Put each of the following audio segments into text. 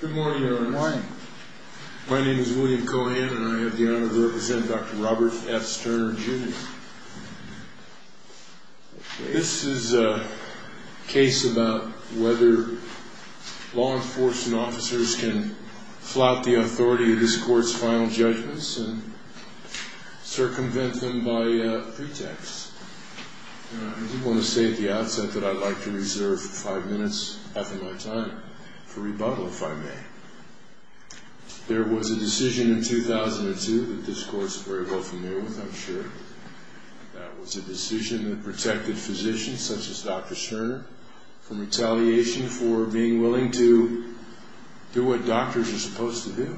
Good morning, Your Honor. Good morning. My name is William Cohan, and I have the honor to represent Dr. Robert F. Sterner, Jr. This is a case about whether law enforcement officers can flout the authority of this court's final judgments and circumvent them by pretext. I do want to say at the outset that I'd like to reserve five minutes, half of my time, for rebuttal, if I may. There was a decision in 2002 that this Court is very well familiar with, I'm sure. That was a decision that protected physicians such as Dr. Sterner from retaliation for being willing to do what doctors are supposed to do.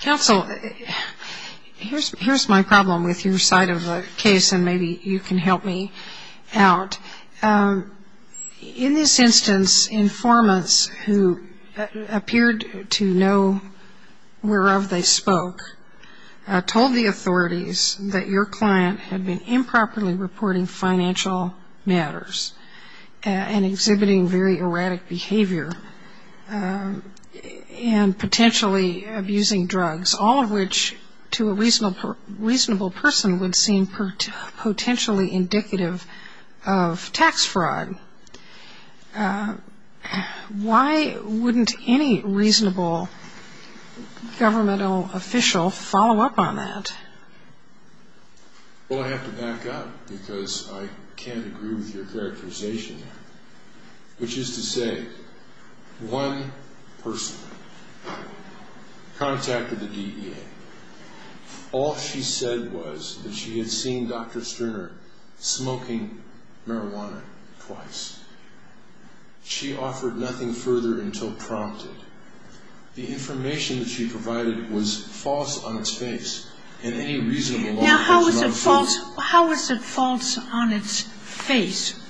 Counsel, here's my problem with your side of the case, and maybe you can help me out. In this instance, informants who appeared to know whereof they spoke told the authorities that your client had been improperly reporting financial matters and exhibiting very erratic behavior and potentially abusing drugs, all of which to a reasonable person would seem potentially indicative of tax fraud. Why wouldn't any reasonable governmental official follow up on that? Well, I have to back up because I can't agree with your characterization there, which is to say one person contacted the DEA. All she said was that she had seen Dr. Sterner smoking marijuana twice. She offered nothing further until prompted. The information that she provided was false on its face. Now, how is it false on its face?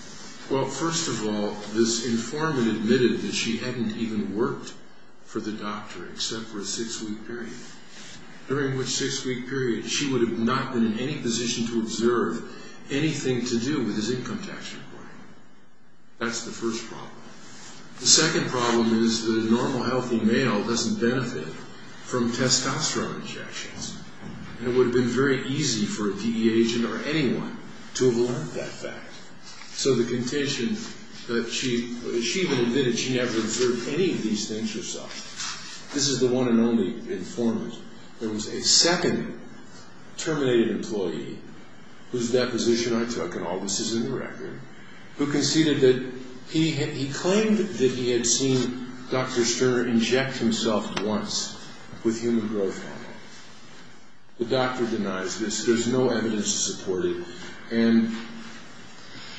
Well, first of all, this informant admitted that she hadn't even worked for the doctor except for a six-week period, during which six-week period she would have not been in any position to observe anything to do with his income tax report. That's the first problem. The second problem is that a normal, healthy male doesn't benefit from testosterone injections, and it would have been very easy for a DEA agent or anyone to have learned that fact. So the contention that she admitted she never observed any of these things herself. This is the one and only informant. There was a second terminated employee whose deposition I took, and all this is in the record, who conceded that he claimed that he had seen Dr. Sterner inject himself once with human growth hormone. The doctor denies this. There's no evidence to support it.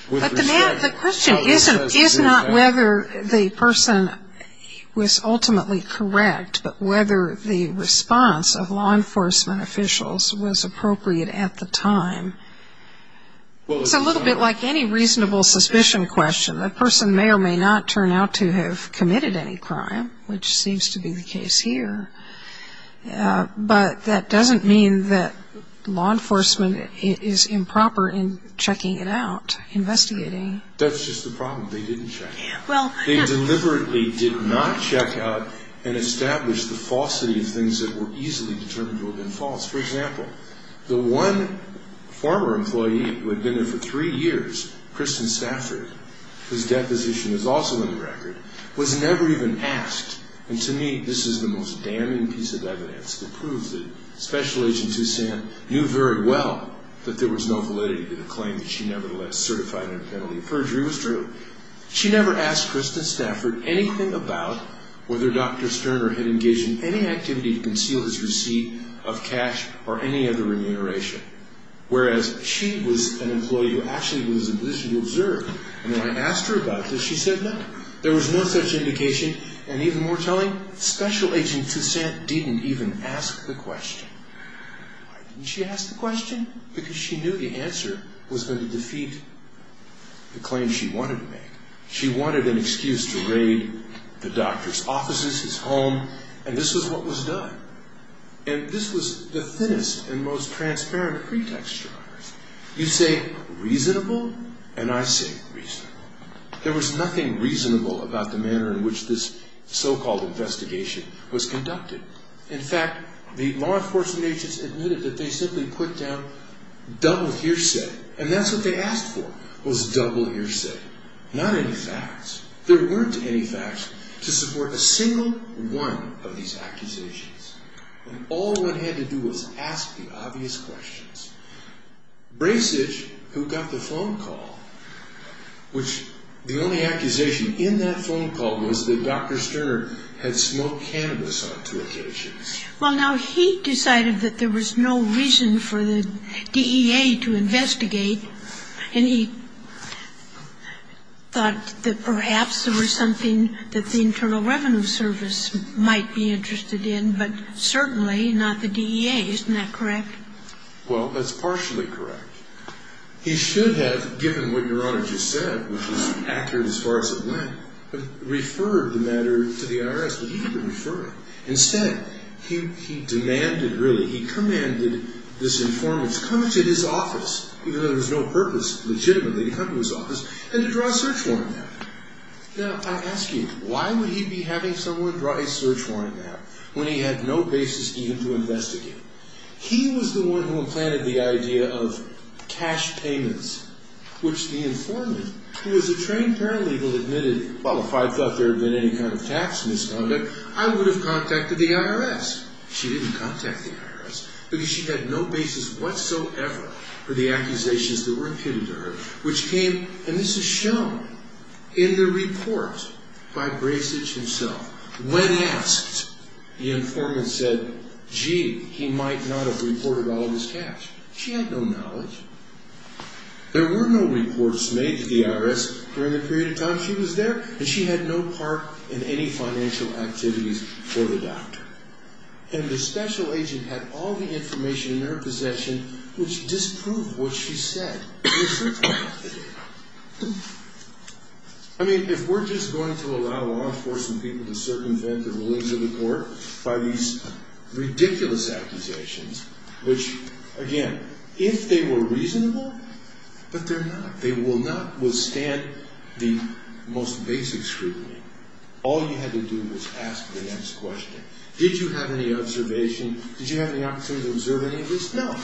But the question is not whether the person was ultimately correct, but whether the response of law enforcement officials was appropriate at the time. It's a little bit like any reasonable suspicion question. The person may or may not turn out to have committed any crime, which seems to be the case here. But that doesn't mean that law enforcement is improper in checking it out, investigating. That's just the problem. They didn't check. They deliberately did not check out and establish the falsity of things that were easily determined to have been false. For example, the one former employee who had been there for three years, Kristen Stafford, whose deposition is also in the record, was never even asked, and to me this is the most damning piece of evidence that proves that Special Agent Sussan knew very well that there was no validity to the claim that she nevertheless certified her penalty of perjury. It was true. She never asked Kristen Stafford anything about whether Dr. Sterner had engaged in any activity to conceal his receipt of cash or any other remuneration, whereas she was an employee who actually was in a position to observe. And when I asked her about this, she said no. There was no such indication. And even more telling, Special Agent Sussan didn't even ask the question. Why didn't she ask the question? Because she knew the answer was going to defeat the claim she wanted to make. She wanted an excuse to raid the doctor's offices, his home, and this was what was done. And this was the thinnest and most transparent pretext. You say reasonable, and I say reasonable. There was nothing reasonable about the manner in which this so-called investigation was conducted. In fact, the law enforcement agents admitted that they simply put down double hearsay, and that's what they asked for was double hearsay. Not any facts. There weren't any facts to support a single one of these accusations. And all one had to do was ask the obvious questions. Brasich, who got the phone call, which the only accusation in that phone call was that Dr. Sterner had smoked cannabis on two occasions. Well, now he decided that there was no reason for the DEA to investigate, and he thought that perhaps there was something that the Internal Revenue Service might be interested in, but certainly not the DEA. Isn't that correct? Well, that's partially correct. He should have, given what Your Honor just said, which was accurate as far as it went, referred the matter to the IRS, but he didn't refer it. Instead, he demanded, really, he commanded this informant to come into his office, even though there was no purpose legitimately to come to his office, and to draw a search warrant on him. Now, I ask you, why would he be having someone draw a search warrant on him when he had no basis even to investigate? He was the one who implanted the idea of cash payments, which the informant, who was a trained paralegal, admitted, well, if I thought there had been any kind of tax misconduct, I would have contacted the IRS. She didn't contact the IRS because she had no basis whatsoever for the accusations that were imputed to her, which came, and this is shown in the report by Brasich himself. When asked, the informant said, gee, he might not have reported all of his cash. She had no knowledge. There were no reports made to the IRS during the period of time she was there, and she had no part in any financial activities for the doctor. And the special agent had all the information in her possession, which disproved what she said in the search warrant that day. I mean, if we're just going to allow law enforcement people to circumvent the rulings of the court by these ridiculous accusations, which, again, if they were reasonable, but they're not. They will not withstand the most basic scrutiny. All you had to do was ask the next question. Did you have any observation? Did you have any opportunity to observe any of this? No.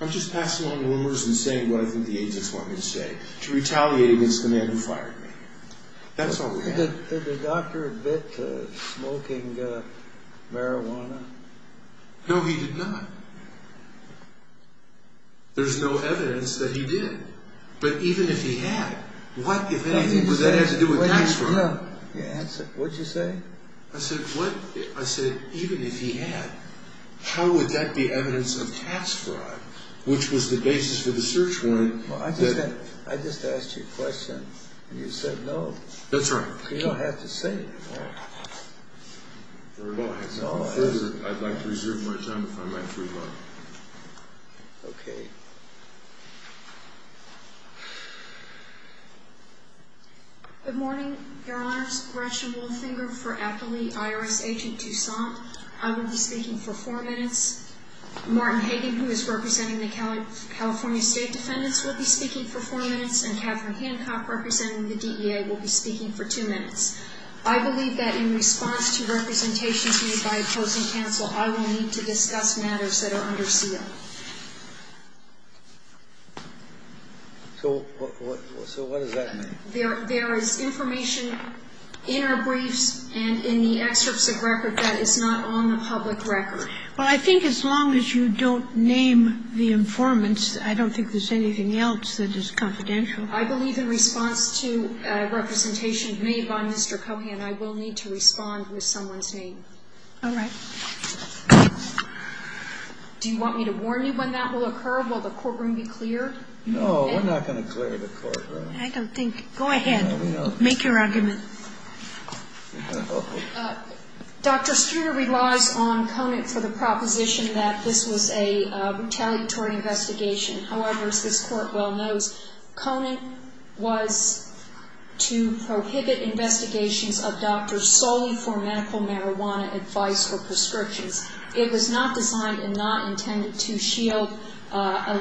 I'm just passing on rumors and saying what I think the agents want me to say. To retaliate against the man who fired me. That's all we have. Did the doctor admit to smoking marijuana? No, he did not. There's no evidence that he did. But even if he had, what, if anything, would that have to do with tax fraud? No. What did you say? I said, even if he had, how would that be evidence of tax fraud, which was the basis for the search warrant? I just asked you a question, and you said no. That's right. You don't have to say it anymore. Well, I'd like to reserve my time if I might, if we'd like. Okay. Good morning, Your Honors. Gretchen Wolfinger for Apley IRS Agent DuSant. I will be speaking for four minutes. Martin Hagen, who is representing the California State Defendants, will be speaking for four minutes, and Catherine Hancock, representing the DEA, will be speaking for two minutes. I believe that in response to representations made by opposing counsel, I will need to discuss matters that are under seal. So what does that mean? There is information in our briefs and in the excerpts of record that is not on the public record. Well, I think as long as you don't name the informants, I don't think there's anything else that is confidential. I believe in response to a representation made by Mr. Cohan, I will need to respond with someone's name. All right. Do you want me to warn you when that will occur? Will the courtroom be clear? No, we're not going to clear the courtroom. I don't think so. Go ahead. Make your argument. Dr. Streeter relies on Conant for the proposition that this was a retaliatory investigation. However, as this Court well knows, Conant was to prohibit investigations of doctors solely for medical marijuana advice or prescriptions. It was not designed and not intended to shield a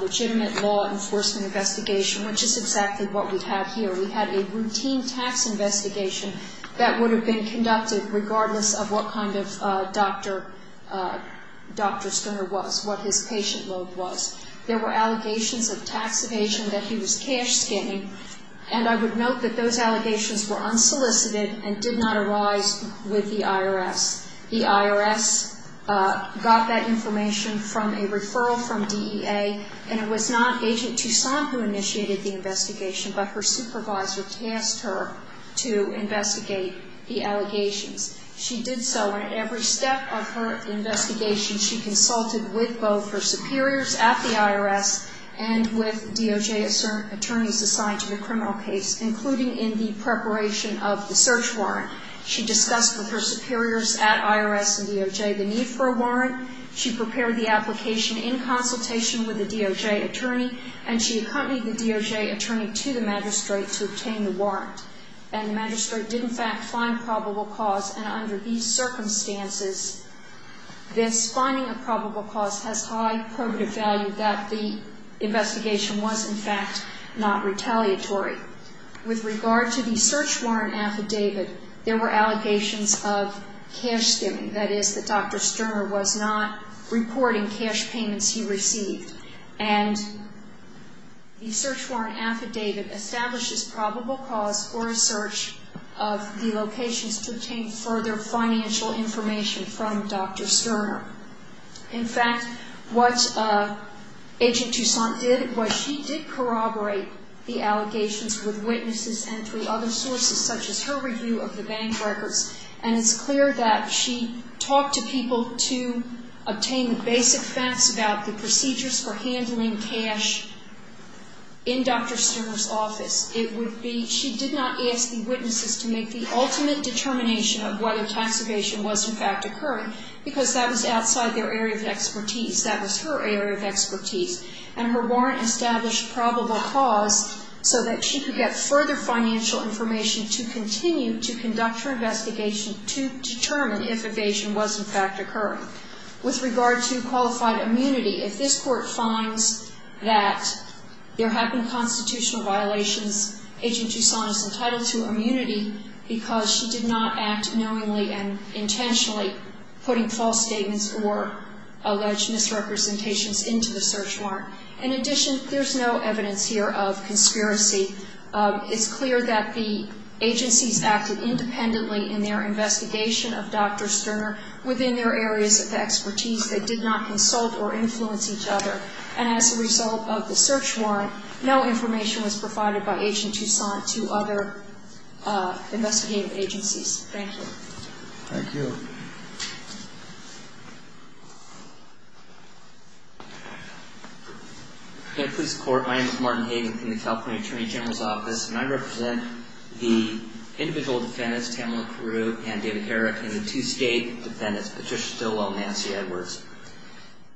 legitimate law enforcement investigation, which is exactly what we have here. We had a routine tax investigation that would have been conducted regardless of what kind of doctor Dr. Streeter was, what his patient load was. There were allegations of tax evasion that he was cash scanning, and I would note that those allegations were unsolicited and did not arise with the IRS. The IRS got that information from a referral from DEA, and it was not Agent Toussaint who initiated the investigation, but her supervisor tasked her to investigate the allegations. She did so, and at every step of her investigation, she consulted with both her superiors at the IRS and with DOJ attorneys assigned to the criminal case, including in the preparation of the search warrant. She discussed with her superiors at IRS and DOJ the need for a warrant. She prepared the application in consultation with the DOJ attorney, and she accompanied the DOJ attorney to the magistrate to obtain the warrant. And the magistrate did, in fact, find probable cause, and under these circumstances, this finding of probable cause has high probative value that the investigation was, in fact, not retaliatory. With regard to the search warrant affidavit, there were allegations of cash skimming, that is, that Dr. Sterner was not reporting cash payments he received. And the search warrant affidavit establishes probable cause for a search of the locations to obtain further financial information from Dr. Sterner. In fact, what Agent Toussaint did was she did corroborate the allegations with witnesses and through other sources, such as her review of the bank records, and it's clear that she talked to people to obtain the basic facts about the procedures for handling cash in Dr. Sterner's office. She did not ask the witnesses to make the ultimate determination of whether tax evasion was, in fact, occurring, because that was outside their area of expertise. That was her area of expertise. And her warrant established probable cause so that she could get further financial information to continue to conduct her investigation to determine if evasion was, in fact, occurring. With regard to qualified immunity, if this Court finds that there have been constitutional violations, Agent Toussaint is entitled to immunity because she did not act knowingly and intentionally putting false statements or alleged misrepresentations into the search warrant. In addition, there's no evidence here of conspiracy. It's clear that the agencies acted independently in their investigation of Dr. Sterner within their areas of expertise. They did not consult or influence each other. And as a result of the search warrant, no information was provided by Agent Toussaint to other investigative agencies. Thank you. Thank you. Good day, Police Court. My name is Martin Hagen from the California Attorney General's Office, and I represent the individual defendants, Tamela Carew and David Herrick, and the two state defendants, Patricia Stillwell and Nancy Edwards.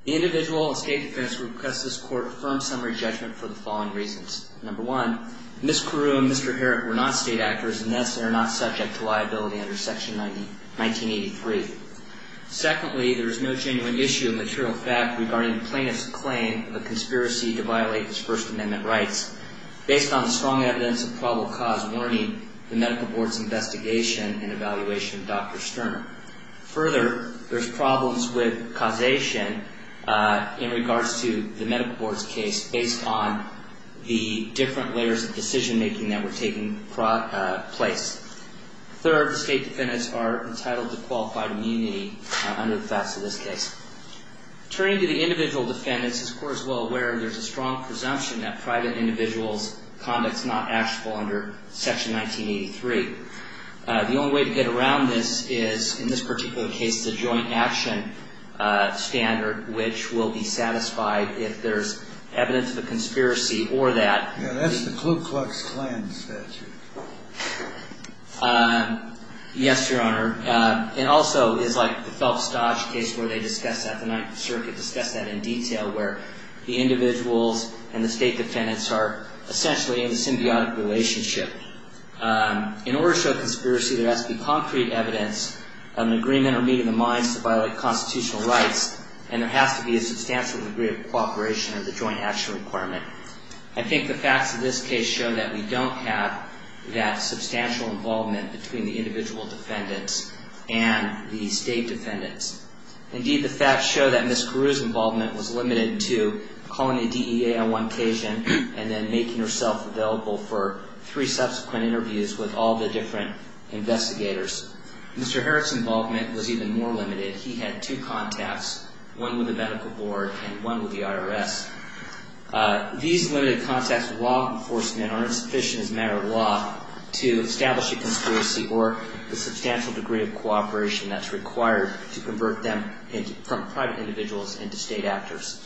The individual and state defendants request this Court a firm summary judgment for the following reasons. Number one, Ms. Carew and Mr. Herrick were not state actors, and thus they are not subject to liability under Section 1983. Secondly, there is no genuine issue of material fact regarding the plaintiff's claim of a conspiracy to violate his First Amendment rights based on the strong evidence of probable cause in learning the Medical Board's investigation and evaluation of Dr. Sterner. Further, there's problems with causation in regards to the Medical Board's case based on the different layers of decision-making that were taking place. Third, the state defendants are entitled to qualified immunity under the facts of this case. Turning to the individual defendants, this Court is well aware there's a strong presumption that private individuals' conduct is not actionable under Section 1983. The only way to get around this is, in this particular case, the joint action standard, which will be satisfied if there's evidence of a conspiracy or that- Yeah, that's the Ku Klux Klan statute. Yes, Your Honor. It also is like the Phelps-Dodge case where they discussed that, the Ninth Circuit discussed that in detail, where the individuals and the state defendants are essentially in a symbiotic relationship. In order to show conspiracy, there has to be concrete evidence of an agreement or meeting of the minds to violate constitutional rights, and there has to be a substantial degree of cooperation of the joint action requirement. I think the facts of this case show that we don't have that substantial involvement between the individual defendants and the state defendants. Indeed, the facts show that Ms. Carew's involvement was limited to calling the DEA on one occasion and then making herself available for three subsequent interviews with all the different investigators. Mr. Herrick's involvement was even more limited. He had two contacts, one with the Medical Board and one with the IRS. These limited contacts with law enforcement are insufficient as a matter of law to establish a conspiracy or the substantial degree of cooperation that's required to convert them from private individuals into state actors.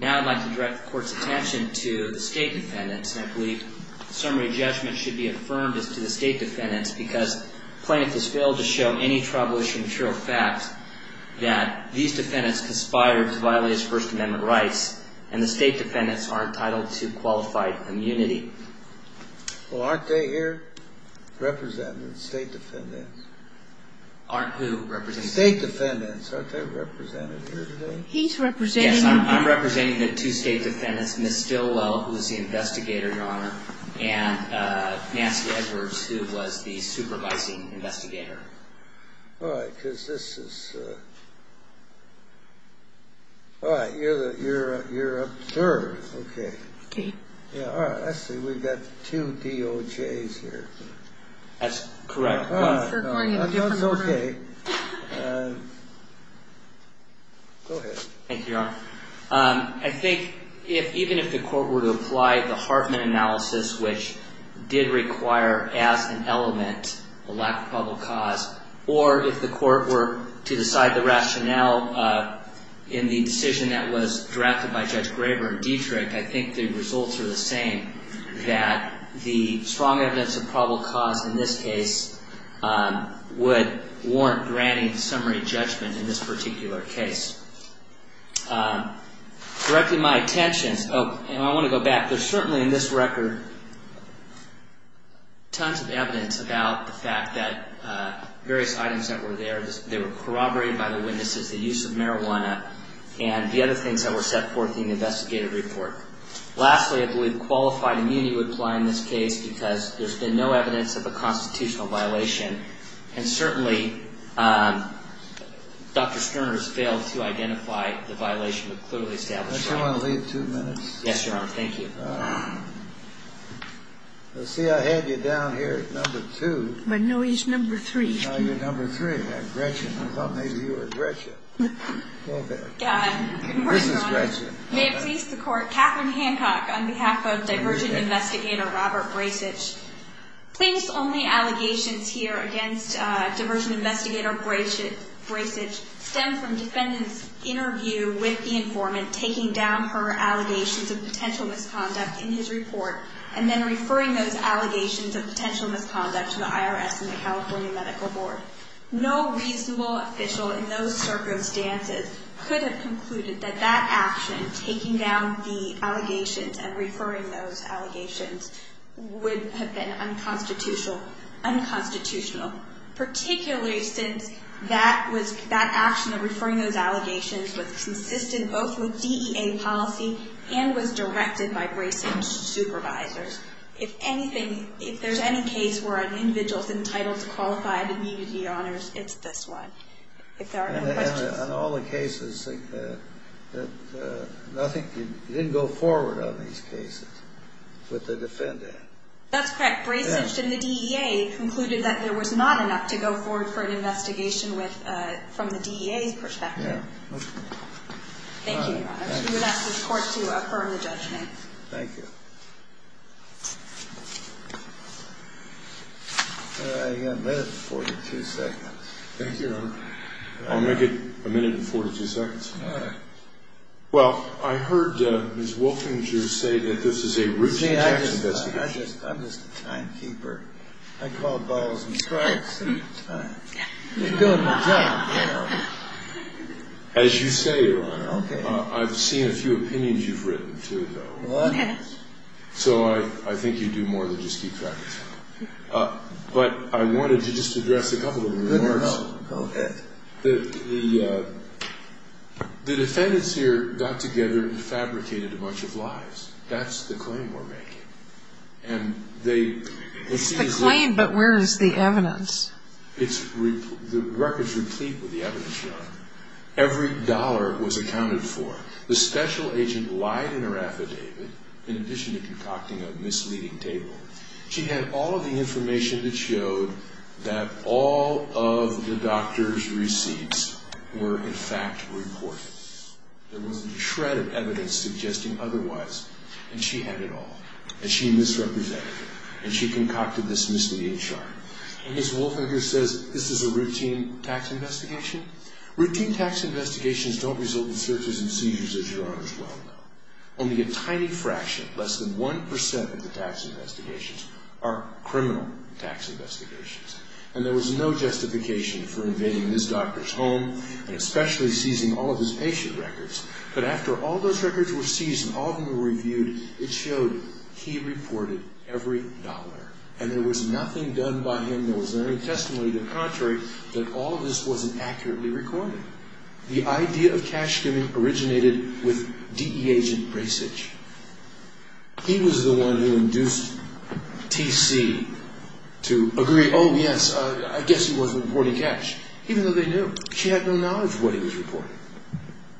Now I'd like to direct the Court's attention to the state defendants, and I believe the summary judgment should be affirmed as to the state defendants because plaintiff has failed to show any tribal issue material facts that these defendants conspired to violate his First Amendment rights, and the state defendants are entitled to qualified immunity. Well, aren't they here representing the state defendants? Aren't who representing the state defendants? Aren't they represented here today? He's representing them. Yes, I'm representing the two state defendants, Ms. Stillwell, who is the investigator, Your Honor, and Nancy Edwards, who was the supervising investigator. All right, because this is a... All right, you're up third. Okay. Okay. Yeah, all right, let's see. We've got two DOJs here. That's correct. That's okay. Go ahead. Thank you, Your Honor. I think even if the Court were to apply the Hartman analysis, which did require as an element a lack of probable cause, or if the Court were to decide the rationale in the decision that was drafted by Judge Graber and Dietrich, I think the results are the same, that the strong evidence of probable cause in this case would warrant granting summary judgment in this particular case. Directing my attention... Oh, and I want to go back. There's certainly, in this record, tons of evidence about the fact that various items that were there, they were corroborated by the witnesses, the use of marijuana, and the other things that were set forth in the investigative report. Lastly, I believe qualified immunity would apply in this case because there's been no evidence of a constitutional violation, and certainly Dr. Sterner has failed to identify the violation but clearly established... Don't you want to leave two minutes? Yes, Your Honor. Thank you. All right. Well, see, I had you down here at number two. But no, he's number three. Oh, you're number three. I thought maybe you were Gretchen. This is Gretchen. May it please the Court, Catherine Hancock on behalf of Diversion Investigator Robert Brasich. Please, only allegations here against Diversion Investigator Brasich stem from defendants' interview with the informant taking down her allegations of potential misconduct in his report and then referring those allegations of potential misconduct to the IRS and the California Medical Board. No reasonable official in those circumstances could have concluded that that action, taking down the allegations and referring those allegations, would have been unconstitutional, particularly since that action of referring those allegations was consistent both with DEA policy and was directed by Brasich's supervisors. If anything, if there's any case where an individual is entitled to qualified immunity, Your Honors, it's this one, if there are no questions. And in all the cases, nothing, you didn't go forward on these cases with the defendant? That's correct. Brasich and the DEA concluded that there was not enough to go forward for an investigation from the DEA's perspective. Yeah. Thank you, Your Honors. We would ask this Court to affirm the judgment. Thank you. You've got a minute and 42 seconds. Thank you, Your Honor. I'll make it a minute and 42 seconds. All right. Well, I heard Ms. Wolfinger say that this is a routine tax investigation. I'm just a timekeeper. I call balls and strikes. It's fine. I'm just doing my job, you know. As you say, Your Honor, I've seen a few opinions you've written, too, though. So I think you do more than just keep track of time. But I wanted to just address a couple of remarks. Go ahead. The defendants here got together and fabricated a bunch of lies. That's the claim we're making. It's the claim, but where is the evidence? The record's replete with the evidence, Your Honor. Every dollar was accounted for. The special agent lied in her affidavit in addition to concocting a misleading table. She had all of the information that showed that all of the doctor's receipts were, in fact, reported. There wasn't a shred of evidence suggesting otherwise, and she had it all, and she misrepresented it, and she concocted this misleading chart. And Ms. Wolfinger says this is a routine tax investigation? Routine tax investigations don't result in searches and seizures, as Your Honor's well know. Only a tiny fraction, less than 1% of the tax investigations, are criminal tax investigations. And there was no justification for invading this doctor's home and especially seizing all of his patient records. But after all those records were seized and all of them were reviewed, it showed he reported every dollar, and there was nothing done by him. There was no testimony to the contrary that all of this wasn't accurately recorded. The idea of cash giving originated with D.E. agent Brasich. He was the one who induced T.C. to agree, oh, yes, I guess he was reporting cash, even though they knew. She had no knowledge of what he was reporting.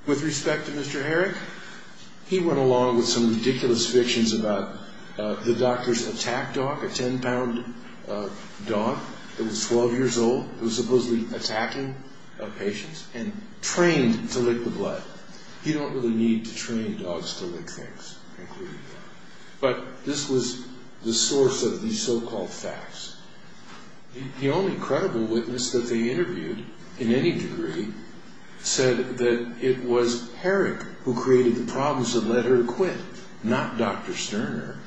With respect to Mr. Herrick, he went along with some ridiculous fictions about the doctor's attack dog, a 10-pound dog that was 12 years old. It was supposedly attacking patients and trained to lick the blood. You don't really need to train dogs to lick things. But this was the source of these so-called facts. The only credible witness that they interviewed, in any degree, said that it was Herrick who created the problems that led her to quit, not Dr. Sterner.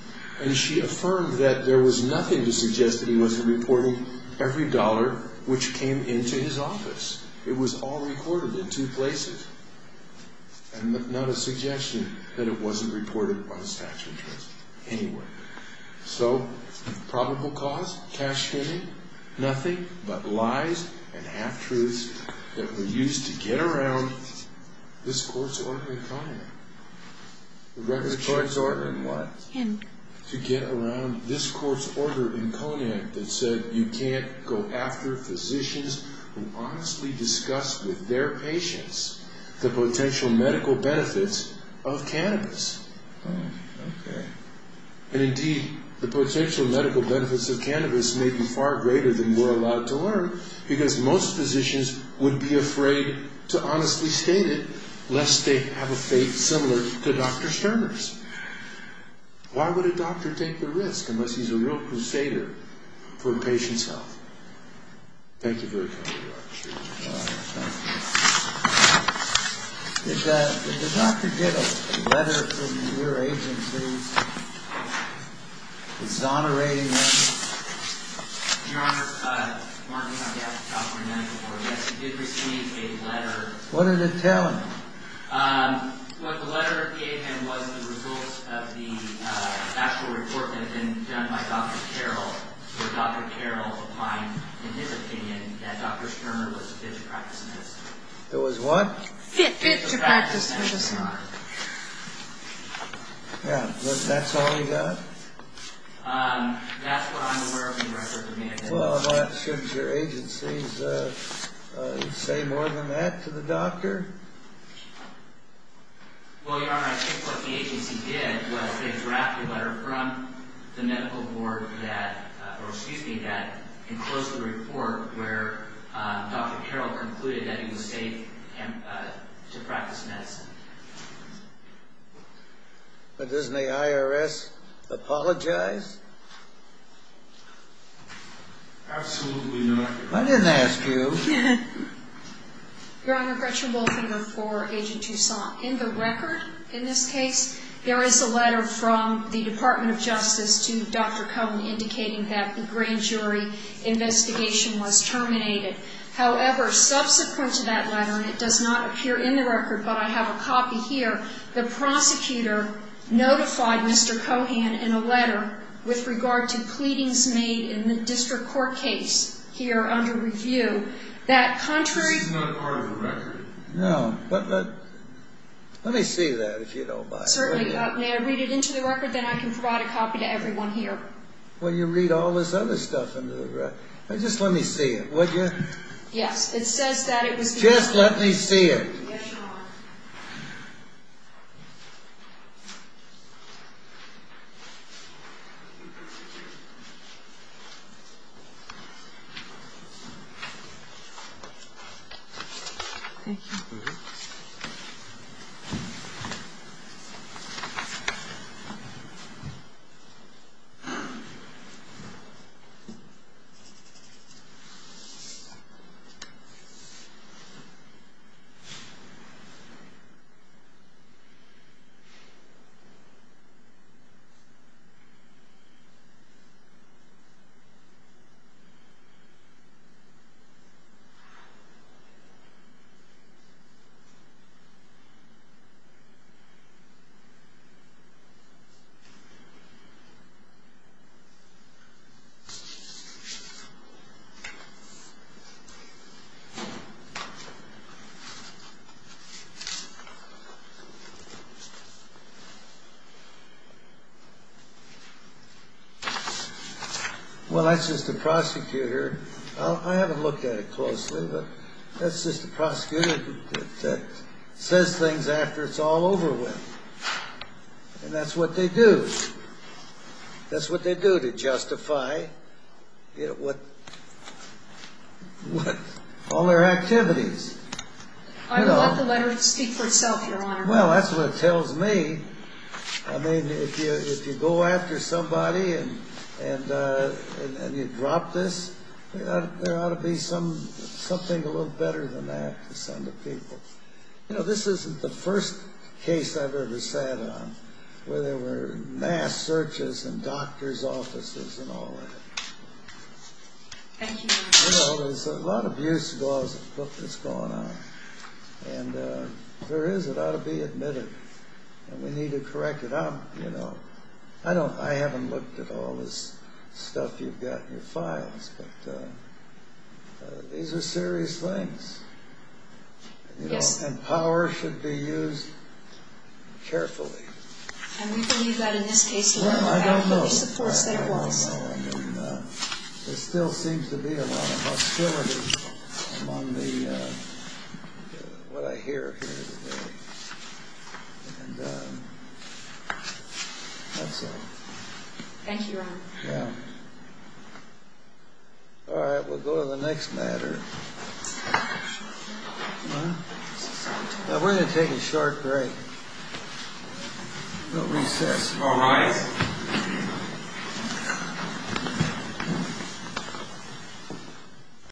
And she affirmed that there was nothing to suggest that he wasn't reporting every dollar which came into his office. It was all recorded in two places. And not a suggestion that it wasn't reported by the statute of truths anywhere. So, probable cause, cash giving, nothing but lies and half-truths that were used to get around this court's ordinary economy. To get around this court's order in Conant that said you can't go after physicians who honestly discuss with their patients the potential medical benefits of cannabis. And indeed, the potential medical benefits of cannabis may be far greater than we're allowed to learn Why would a doctor take the risk unless he's a real crusader for a patient's health? Thank you very much. Did the doctor get a letter from your agency exonerating him? Your Honor, Martin, I've talked to him before. Yes, he did receive a letter. What did it tell him? What the letter gave him was the results of the actual report that had been done by Dr. Carroll. Where Dr. Carroll opined, in his opinion, that Dr. Sterner was a fit-to-practice medicine. It was what? Fit-to-practice medicine. Yeah, that's all he got? That's what I'm aware of, Your Honor. Well, I'm not sure if your agency would say more than that to the doctor. Well, Your Honor, I think what the agency did was they drafted a letter from the medical board that enclosed the report where Dr. Carroll concluded that he was safe to practice medicine. But doesn't the IRS apologize? Absolutely not. I didn't ask you. Your Honor, Gretchen Wolfinger for Agent Toussaint. In the record, in this case, there is a letter from the Department of Justice to Dr. Cohen indicating that the grand jury investigation was terminated. However, subsequent to that letter, and it does not appear in the record, but I have a copy here, the prosecutor notified Mr. Cohen in a letter with regard to pleadings made in the district court case here under review that contrary This is not part of the record. No, but let me see that if you don't mind. Certainly. May I read it into the record? Then I can provide a copy to everyone here. Well, you read all this other stuff into the record. Just let me see it, would you? Yes, it says that it was Just let me see it. Yes, Your Honor. Your Honor. Well, that's just a prosecutor. I haven't looked at it closely, but that's just a prosecutor that says things after it's all over with. And that's what they do. That's what they do to justify all their activities. I would let the letter speak for itself, Your Honor. Well, that's what it tells me. I mean, if you go after somebody and you drop this, there ought to be something a little better than that to send to people. You know, this isn't the first case I've ever sat on where there were mass searches in doctors' offices and all that. Thank you, Your Honor. You know, there's a lot of abuse that's going on. And there is, it ought to be admitted. And we need to correct it. I'm, you know, I haven't looked at all this stuff you've got in your files, but these are serious things. Yes. And power should be used carefully. And we believe that in this case. Well, I don't know. I don't know. And there still seems to be a lot of hostility among the, what I hear here today. And that's all. Thank you, Your Honor. Yeah. All right. We'll go to the next matter. We're going to take a short break. We'll recess. All rise.